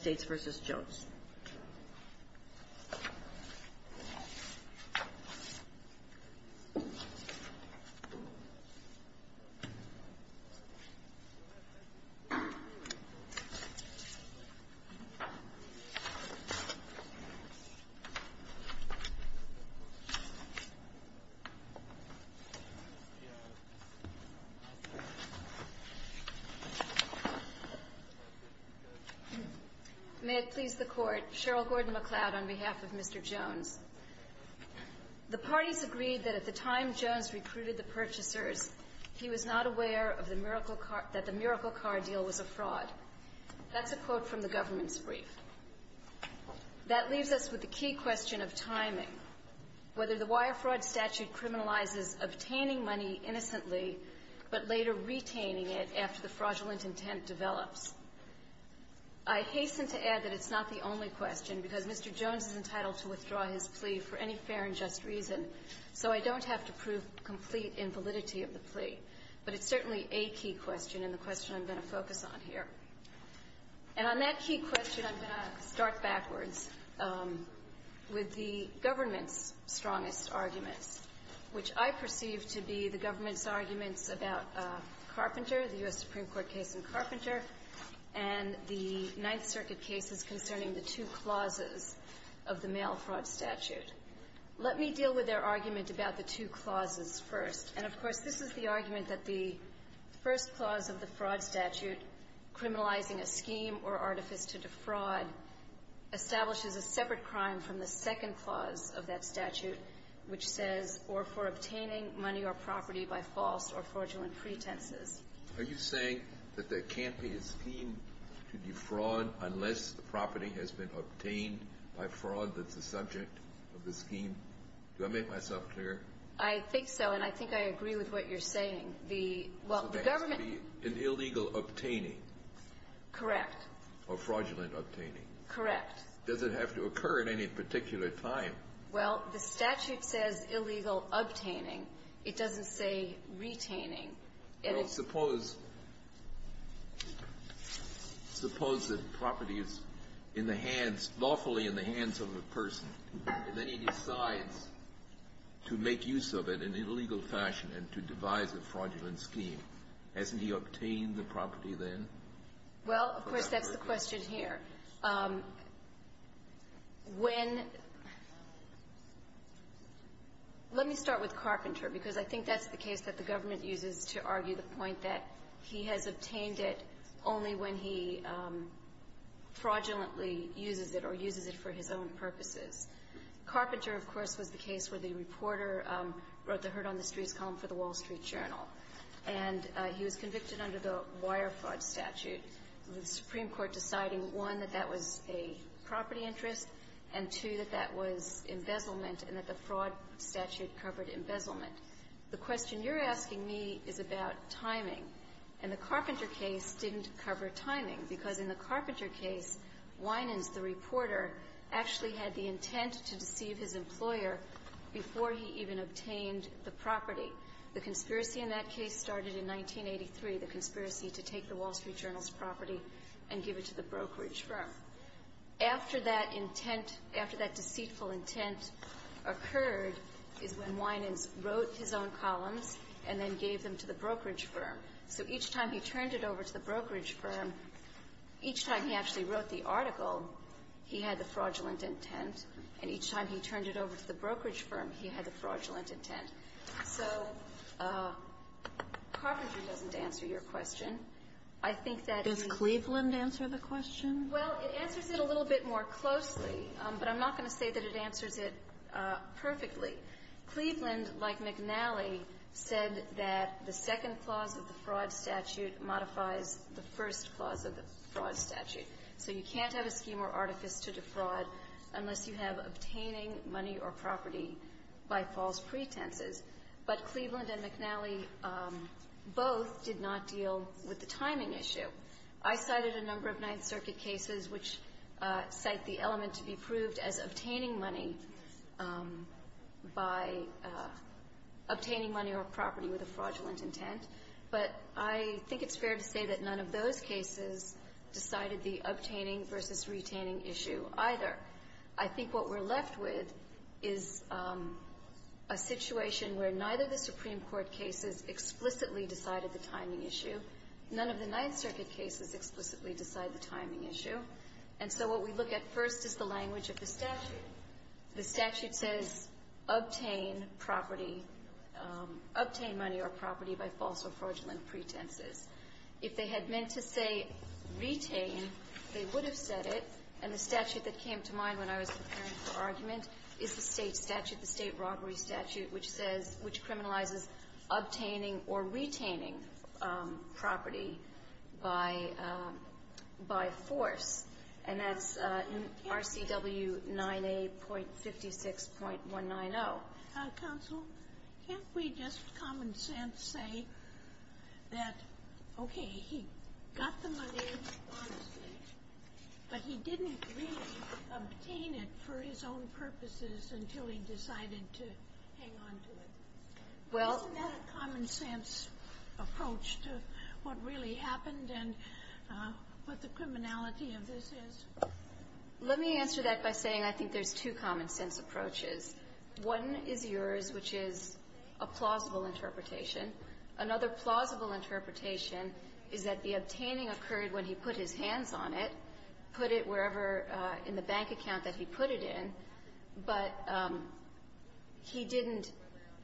States v. Jones May it please the Court, Cheryl Gordon-McLeod on behalf of Mr. Jones. The parties agreed that at the time Jones recruited the purchasers, he was not aware of the Miracle Car Deal was a fraud. That's a quote from the government's brief. That leaves us with the key question of timing, whether the wire fraud statute criminalizes obtaining money innocently but later retaining it after the fraudulent intent develops. I hasten to add that it's not the only question, because Mr. Jones is entitled to withdraw his plea for any fair and just reason, so I don't have to prove complete invalidity of the plea. But it's certainly a key question and the question I'm going to focus on here. And on that key question, I'm going to start backwards with the government's strongest arguments, which I perceive to be the government's strongest argument in the case in Carpenter and the Ninth Circuit cases concerning the two clauses of the mail fraud statute. Let me deal with their argument about the two clauses first. And, of course, this is the argument that the first clause of the fraud statute, criminalizing a scheme or artifice to defraud, establishes a separate crime from the second clause of that statute, which says, or for obtaining money or property by false or fraudulent pretenses. Are you saying that there can't be a scheme to defraud unless the property has been obtained by fraud that's the subject of the scheme? Do I make myself clear? I think so, and I think I agree with what you're saying. The – well, the government So there has to be an illegal obtaining. Correct. Or fraudulent obtaining. Correct. Does it have to occur at any particular time? Well, the statute says illegal obtaining. It doesn't say retaining. Well, suppose – suppose the property is in the hands, lawfully in the hands of a person, and then he decides to make use of it in an illegal fashion and to devise a fraudulent scheme. Hasn't he obtained the property then? Well, of course, that's the question here. When – let me start with Carpenter, because I think that's the case that the government uses to argue the point that he has obtained it only when he fraudulently uses it or uses it for his own purposes. Carpenter, of course, was the case where the reporter wrote the Hurt on the Streets column for the Wall Street Journal, and he was convicted under the Wire Fraud statute, the Supreme Court deciding, one, that that was a property interest, and, two, that that was embezzlement and that the fraud statute covered embezzlement. The question you're asking me is about timing. And the Carpenter case didn't cover timing, because in the Carpenter case, Winans, the reporter, actually had the intent to deceive his employer before he even obtained the property. The conspiracy in that case started in 1983, the conspiracy to take the Wall Street Journal's property and give it to the brokerage firm. After that intent, after that deceitful intent occurred is when Winans wrote his own columns and then gave them to the brokerage firm. So each time he turned it over to the brokerage firm, each time he actually wrote the article, he had the fraudulent intent, and each time he turned it over to the brokerage firm, he had the fraudulent intent. So Carpenter doesn't answer your question. I think that the ---- Kagan. Does Cleveland answer the question? Well, it answers it a little bit more closely, but I'm not going to say that it answers it perfectly. Cleveland, like McNally, said that the second clause of the fraud statute modifies the first clause of the fraud statute. So you can't have a scheme or artifice to defraud unless you have obtaining money or property by false pretenses. But Cleveland and McNally both did not deal with the timing issue. I cited a number of Ninth Circuit cases which cite the element to be proved as obtaining money by obtaining money or property with a fraudulent intent, but I think it's fair to say that none of those cases decided the obtaining versus retaining issue either. I think what we're left with is a situation where neither the Supreme Court cases explicitly decided the timing issue, none of the Ninth Circuit cases explicitly decide the timing issue. And so what we look at first is the language of the statute. The statute says, obtain property, obtain money or property by false or fraudulent pretenses. If they had meant to say retain, they would have said it. And the statute that came to mind when I was preparing for argument is the State statute, the State Robbery Statute, which says ---- which criminalizes obtaining or retaining property by force. And that's RCW 9A.56.190. Counsel, can't we just common sense say that, okay, he got the money, but he didn't really obtain it for his own purposes until he decided to hang on to it? Well ---- Isn't that a common sense approach to what really happened and what the criminality of this is? Let me answer that by saying I think there's two common sense approaches. One is yours, which is a plausible interpretation. Another plausible interpretation is that the obtaining occurred when he put his hands on it, put it wherever in the bank account that he put it in, but he didn't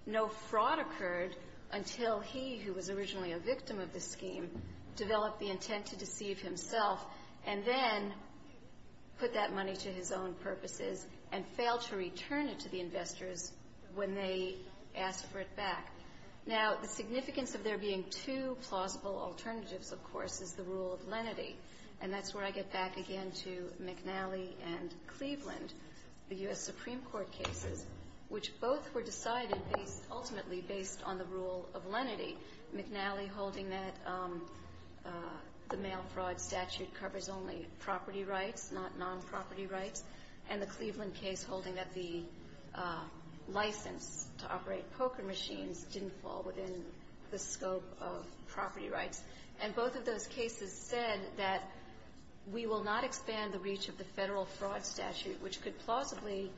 know that fraud occurred until he, who was originally a victim of the scheme, developed the intent to deceive himself and then put that money to his own purposes and failed to return it to the investors when they asked for it back. Now, the significance of there being two plausible alternatives, of course, is the rule of lenity. And that's where I get back again to McNally and Cleveland, the U.S. based on the rule of lenity, McNally holding that the mail fraud statute covers only property rights, not nonproperty rights, and the Cleveland case holding that the license to operate poker machines didn't fall within the scope of property rights. And both of those cases said that we will not expand the reach of the Federal Fraud Statute, which could plausibly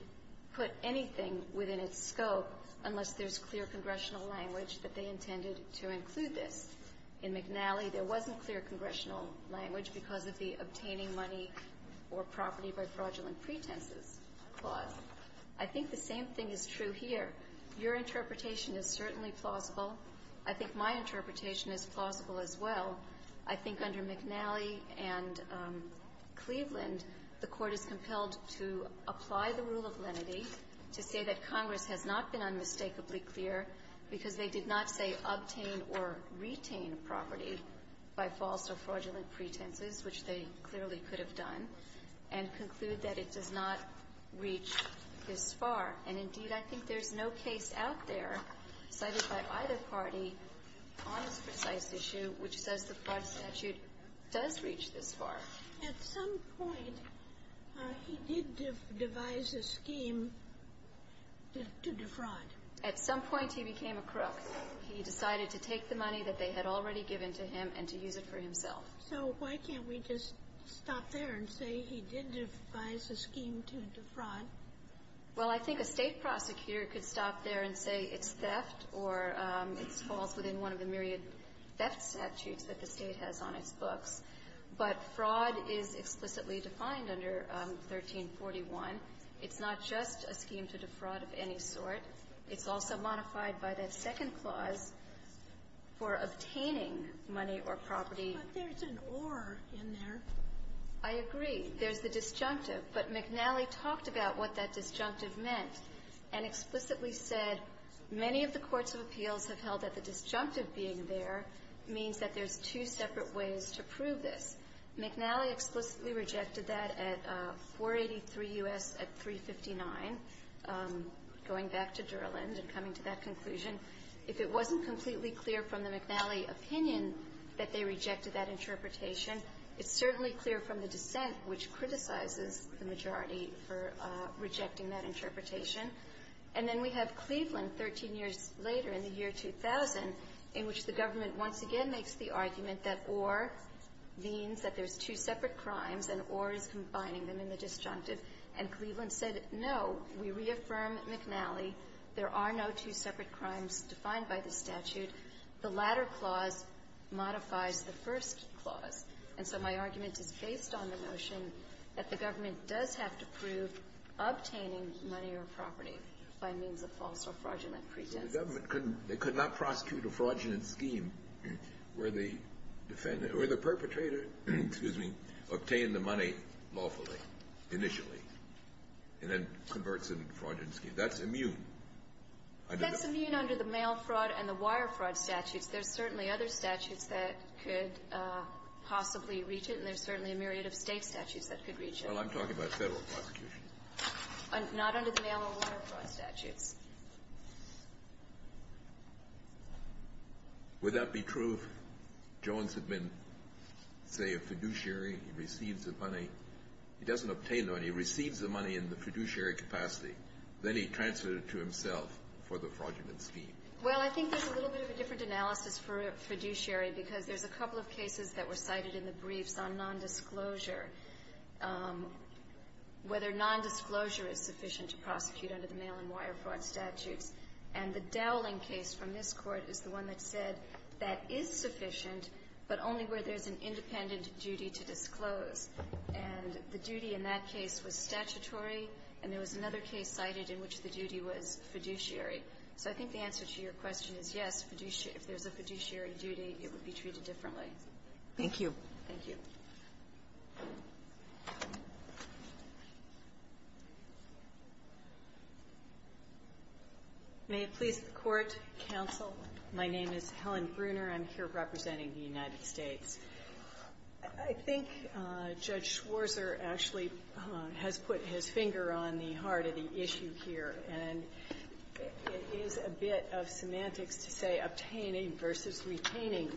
put anything within its scope unless there's clear congressional language that they intended to include this. In McNally, there wasn't clear congressional language because of the obtaining money or property by fraudulent pretenses clause. I think the same thing is true here. Your interpretation is certainly plausible. I think my interpretation is plausible as well. I think under McNally and Cleveland, the Court is compelled to apply the rule of lenity to say that the fraud statute does reach this far. At some point, he did devise a scheme to defraud. At some point, he became a crook. He decided to take the money that they had already given to him and to use it for himself. So why can't we just stop there and say he did devise a scheme to defraud? Well, I think a State prosecutor could stop there and say it's theft or it falls within one of the myriad theft statutes that the State has on its books. But fraud is explicitly defined under 1341. It's not just a scheme to defraud of any sort. It's also modified by that second clause for obtaining money or property. But there's an or in there. I agree. There's the disjunctive. But McNally talked about what that disjunctive meant and explicitly said many of the courts of appeals have held that the disjunctive being there means that there's two separate ways to prove this. McNally explicitly rejected that at 483 U.S. at 359. Going back to Durland and coming to that conclusion, if it wasn't completely clear from the McNally opinion that they rejected that interpretation, it's certainly clear from the dissent which criticizes the majority for rejecting that interpretation. And then we have Cleveland 13 years later in the year 2000 in which the government once again makes the argument that or means that there's two separate crimes and or is combining them in the disjunctive. And Cleveland said, no, we reaffirm McNally. There are no two separate crimes defined by the statute. The latter clause modifies the first clause. And so my argument is based on the notion that the government does have to prove obtaining money or property by means of false or fraudulent pretense. The government couldn't they could not prosecute a fraudulent scheme where the defendant or the perpetrator, excuse me, obtain the money lawfully, initially, and then converts it into a fraudulent scheme. That's immune. That's immune under the mail fraud and the wire fraud statutes. There's certainly other statutes that could possibly reach it, and there's certainly a myriad of State statutes that could reach it. Well, I'm talking about Federal prosecution. Not under the mail or wire fraud statutes. Would that be true if Jones had been, say, a fiduciary, he receives the money. He doesn't obtain the money. He receives the money in the fiduciary capacity. Then he transfers it to himself for the fraudulent scheme. Well, I think there's a little bit of a different analysis for fiduciary because there's a couple of cases that were cited in the briefs on nondisclosure, whether nondisclosure is sufficient to prosecute under the mail and wire fraud statutes. And the Dowling case from this Court is the one that said that is sufficient, but only where there's an independent duty to disclose. And the duty in that case was statutory, and there was another case cited in which the duty was fiduciary. So I think the answer to your question is, yes, if there's a fiduciary duty, it would be treated differently. Thank you. Thank you. May it please the Court, counsel. My name is Helen Bruner. I'm here representing the United States. I think Judge Schwarzer actually has put his finger on the heart of the issue here. And it is a bit of semantics to say obtaining versus retaining,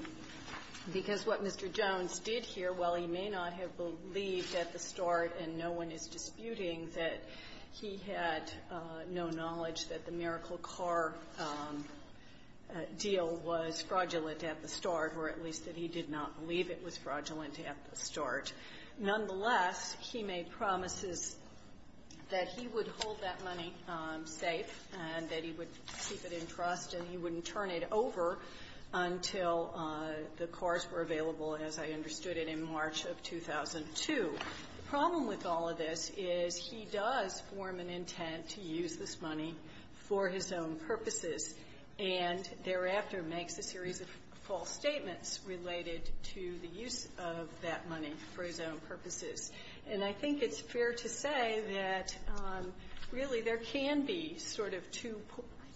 because what Mr. Jones did here, while he may not have believed at the start, and no one is disputing, that he had no knowledge that the Miracle Car deal was fraudulent at the start, or at least that he did not believe it was fraudulent at the start. Nonetheless, he made promises that he would hold that money safe and that he would keep it in trust and he wouldn't turn it over until the cars were available, as I understood it, in March of 2002. The problem with all of this is he does form an intent to use this money for his own purposes, and thereafter makes a series of false statements related to the use of that money for his own purposes. And I think it's fair to say that, really, there can be sort of two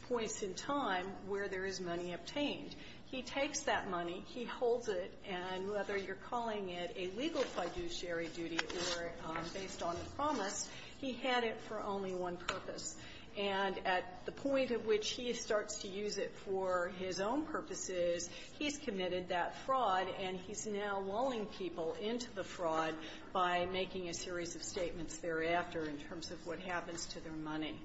points in time where there is money obtained. He takes that money, he holds it, and whether you're calling it a legal fiduciary duty or based on a promise, he had it for only one purpose. And at the point at which he starts to use it for his own purposes, he's committed that fraud, and he's now lulling people into the fraud by making a series of statements thereafter in terms of what happens to their money.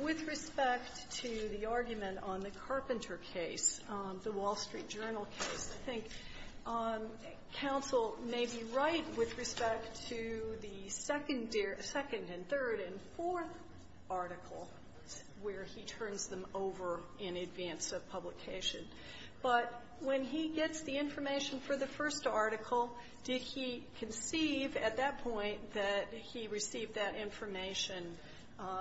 With respect to the argument on the Carpenter case, the Wall Street Journal case, I think counsel may be right with respect to the second and third and fourth article where he turns them over in advance of publication. But when he gets the information for the first article, did he conceive at that point that he received that information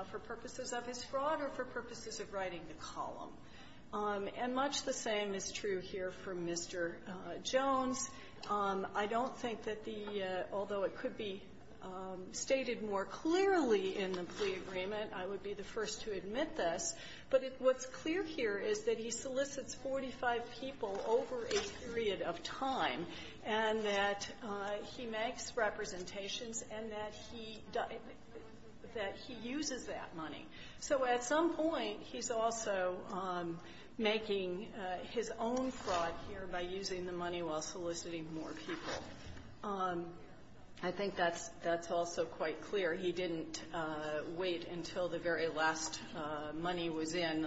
for purposes of his fraud or for purposes of writing the column? And much the same is true here for Mr. Jones. I don't think that the — although it could be stated more clearly in the plea agreement, I would be the first to admit this. But what's clear here is that he solicits 45 people over a period of time, and that he makes representations, and that he uses that money. So at some point, he's also making his own fraud here by using the money while soliciting more people. I think that's also quite clear. He didn't wait until the very last money was in,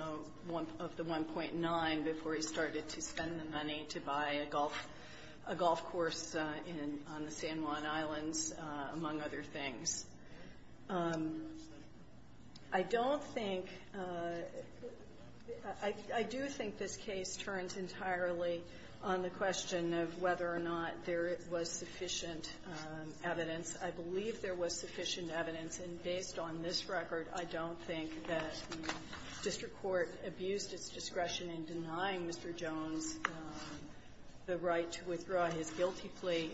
of the 1.9, before he started to spend the money to buy a golf — a golf course in — on the San Juan Islands, among other things. I don't think — I do think this case turns entirely on the question of whether or not there was sufficient evidence. I believe there was sufficient evidence. And based on this record, I don't think that the district court abused its discretion in denying Mr. Jones the right to withdraw his guilty plea.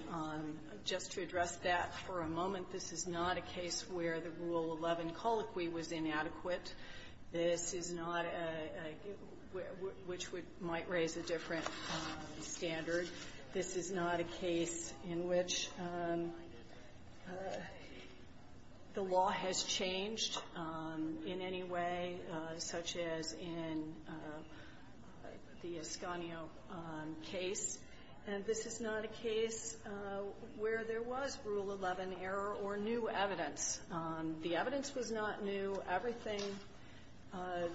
Just to address that for a moment, this is not a case where the Rule 11 colloquy was inadequate. This is not a — which would — might raise a different standard. This is not a case in which the law has changed in any way, such as in the case of the Ascanio case. And this is not a case where there was Rule 11 error or new evidence. The evidence was not new. Everything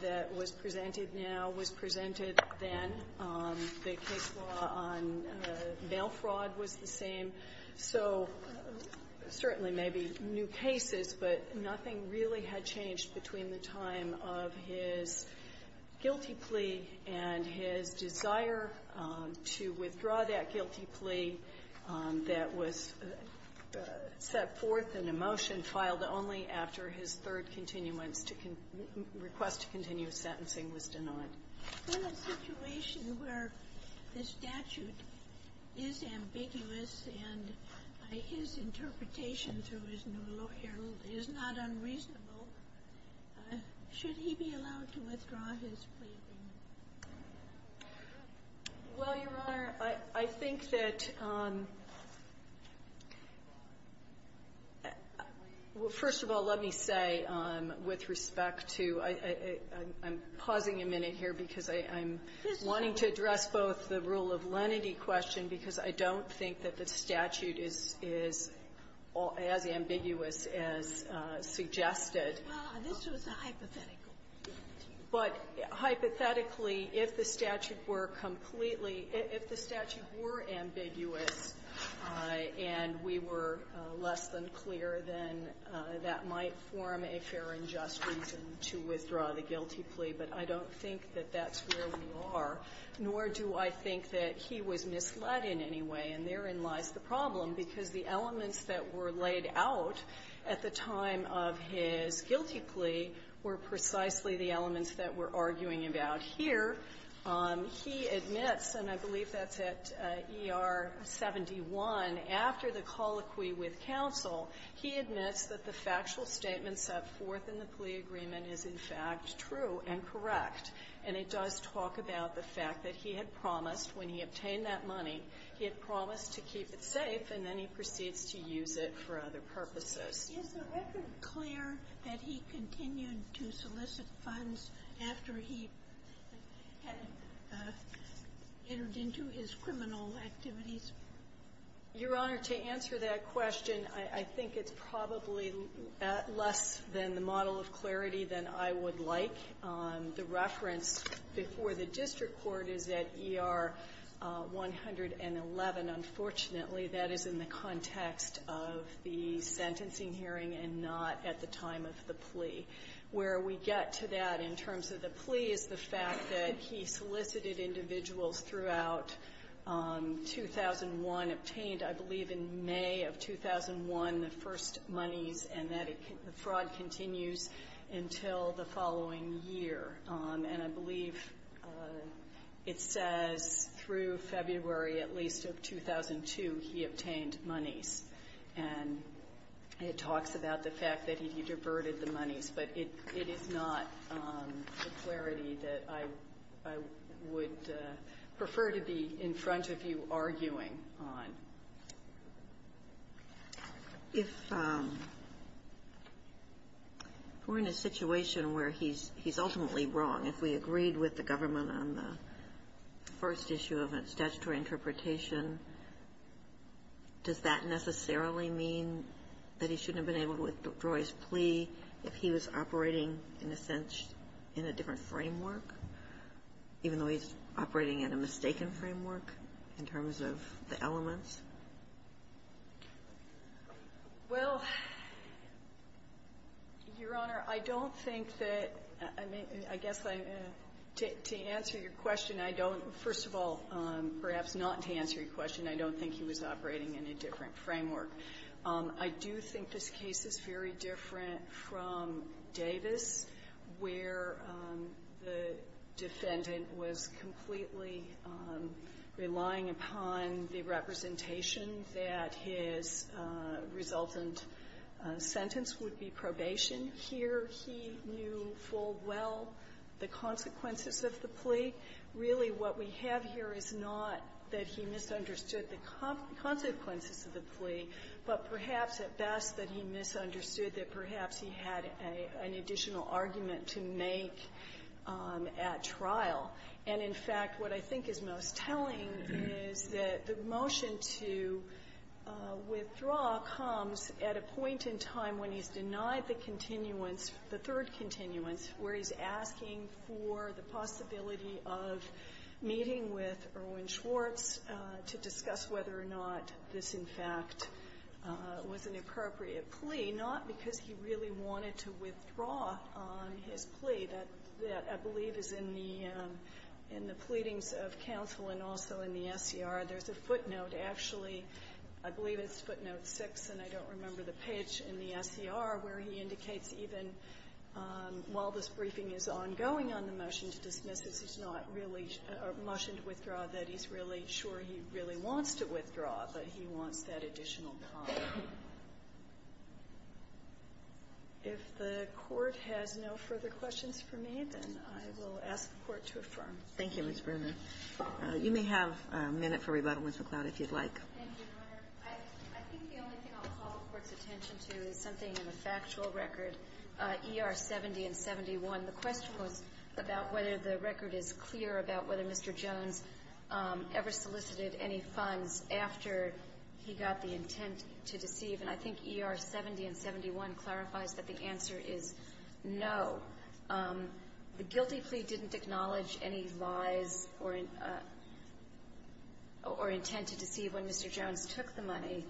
that was presented now was presented then. The case law on mail fraud was the same. So certainly maybe new cases, but nothing really had changed between the time of his guilty plea and his desire to withdraw that guilty plea that was set forth in a motion filed only after his third continuance to — request to continue sentencing was denied. Ginsburg. In a situation where the statute is ambiguous and his interpretation through his new lawyer is not unreasonable, should he be allowed to withdraw his plea agreement? Well, Your Honor, I think that — first of all, let me say with respect to — I'm pausing a minute here because I'm wanting to address both the rule of lenity question because I don't think that the statute is — is as ambiguous as suggested. Well, this was a hypothetical guilty plea. But hypothetically, if the statute were completely — if the statute were ambiguous and we were less than clear, then that might form a fair and just reason to withdraw the guilty plea. But I don't think that that's where we are, nor do I think that he was misled in any way. And therein lies the problem, because the elements that were laid out at the time of his guilty plea were precisely the elements that we're arguing about here. He admits — and I believe that's at ER 71 — after the colloquy with counsel, he admits that the factual statement set forth in the plea agreement is, in fact, true and correct. And it does talk about the fact that he had promised, when he obtained that money, he had promised to keep it safe, and then he proceeds to use it for other purposes. Is the record clear that he continued to solicit funds after he had entered into his criminal activities? Your Honor, to answer that question, I think it's probably less than the model of clarity than I would like. The reference before the district court is at ER 111. Unfortunately, that is in the context of the sentencing hearing and not at the time of the plea. Where we get to that in terms of the plea is the fact that he solicited individuals throughout 2001, obtained, I believe, in May of 2001, the first monies, and that fraud continues until the following year. And I believe it says through February, at least, of 2002, he obtained monies. And it talks about the fact that he diverted the monies, but it is not the clarity that I would prefer to be in front of you arguing on. If we're in a situation where he's ultimately wrong, if we agreed with the government on the first issue of a statutory interpretation, does that necessarily mean that he shouldn't have been able to withdraw his plea if he was operating, in a sense, in a different framework in terms of the elements? Well, Your Honor, I don't think that to answer your question, I don't, first of all, perhaps not to answer your question, I don't think he was operating in a different realm, relying upon the representation that his resultant sentence would be probation. Here, he knew full well the consequences of the plea. Really, what we have here is not that he misunderstood the consequences of the plea, but perhaps, at best, that he misunderstood that perhaps he had an additional argument to make at trial. And, in fact, what I think is most telling is that the motion to withdraw comes at a point in time when he's denied the continuance, the third continuance, where he's asking for the possibility of meeting with Erwin Schwartz to discuss whether or not this, in fact, was an appropriate plea, not because he really wanted to withdraw on his plea, that I believe is in the pleadings of counsel and also in the SCR. There's a footnote, actually, I believe it's footnote 6, and I don't remember the page, in the SCR, where he indicates even while this briefing is ongoing on the motion to dismiss, this is not really a motion to withdraw, that he's really sure he really wants to withdraw, but he wants that additional time. If the Court has no further questions for me, then I will ask the Court to affirm. Thank you, Ms. Bruner. You may have a minute for Rebuttal, Ms. McLeod, if you'd like. Thank you, Your Honor. I think the only thing I'll call the Court's attention to is something in the factual record, ER 70 and 71. The question was about whether the record is clear about whether Mr. Jones ever solicited any funds after he got the intent to deceive. And I think ER 70 and 71 clarifies that the answer is no. The guilty plea didn't acknowledge any lies or intent to deceive when Mr. Jones took the money.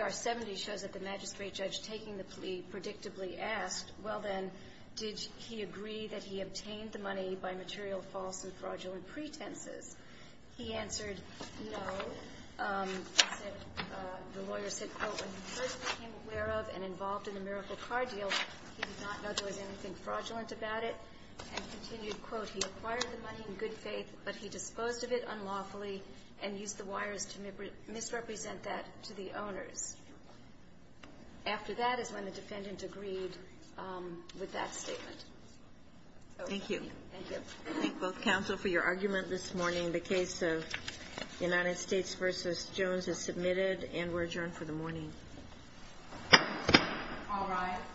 ER 70 shows that the magistrate judge taking the plea predictably asked, well, then, did he agree that he obtained the money by material false and fraudulent pretenses? He answered no. He said, the lawyer said, quote, when he first became aware of and involved in the Miracle Car Deal, he did not know there was anything fraudulent about it, and continued, quote, he acquired the money in good faith, but he disposed of it unlawfully and used the wires to misrepresent that to the owners. After that is when the defendant agreed with that statement. Thank you. Thank you. I thank both counsel for your argument this morning. The case of United States v. Jones is submitted and we're adjourned for the morning. All rise. This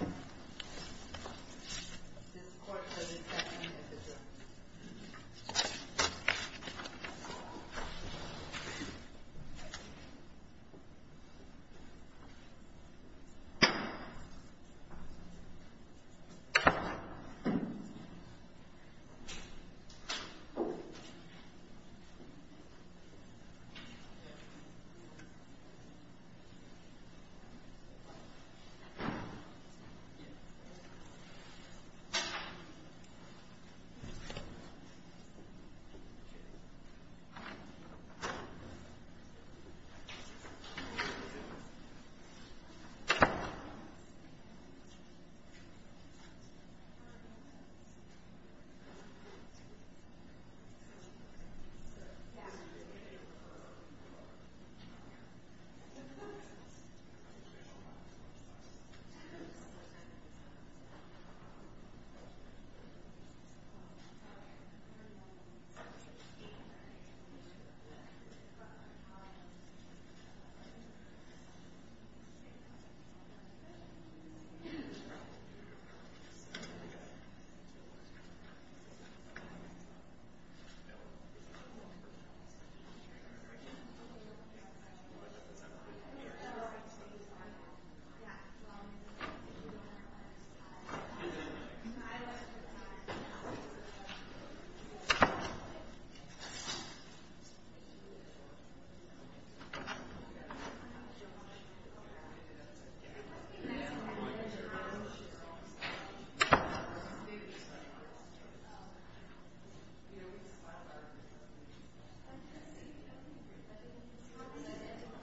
court has its second hearing. All rise. This court has its second hearing. All rise. This court has its second hearing. All rise. This court has its second hearing. This court has its second hearing. All rise. This court has its second hearing. This court has its second hearing.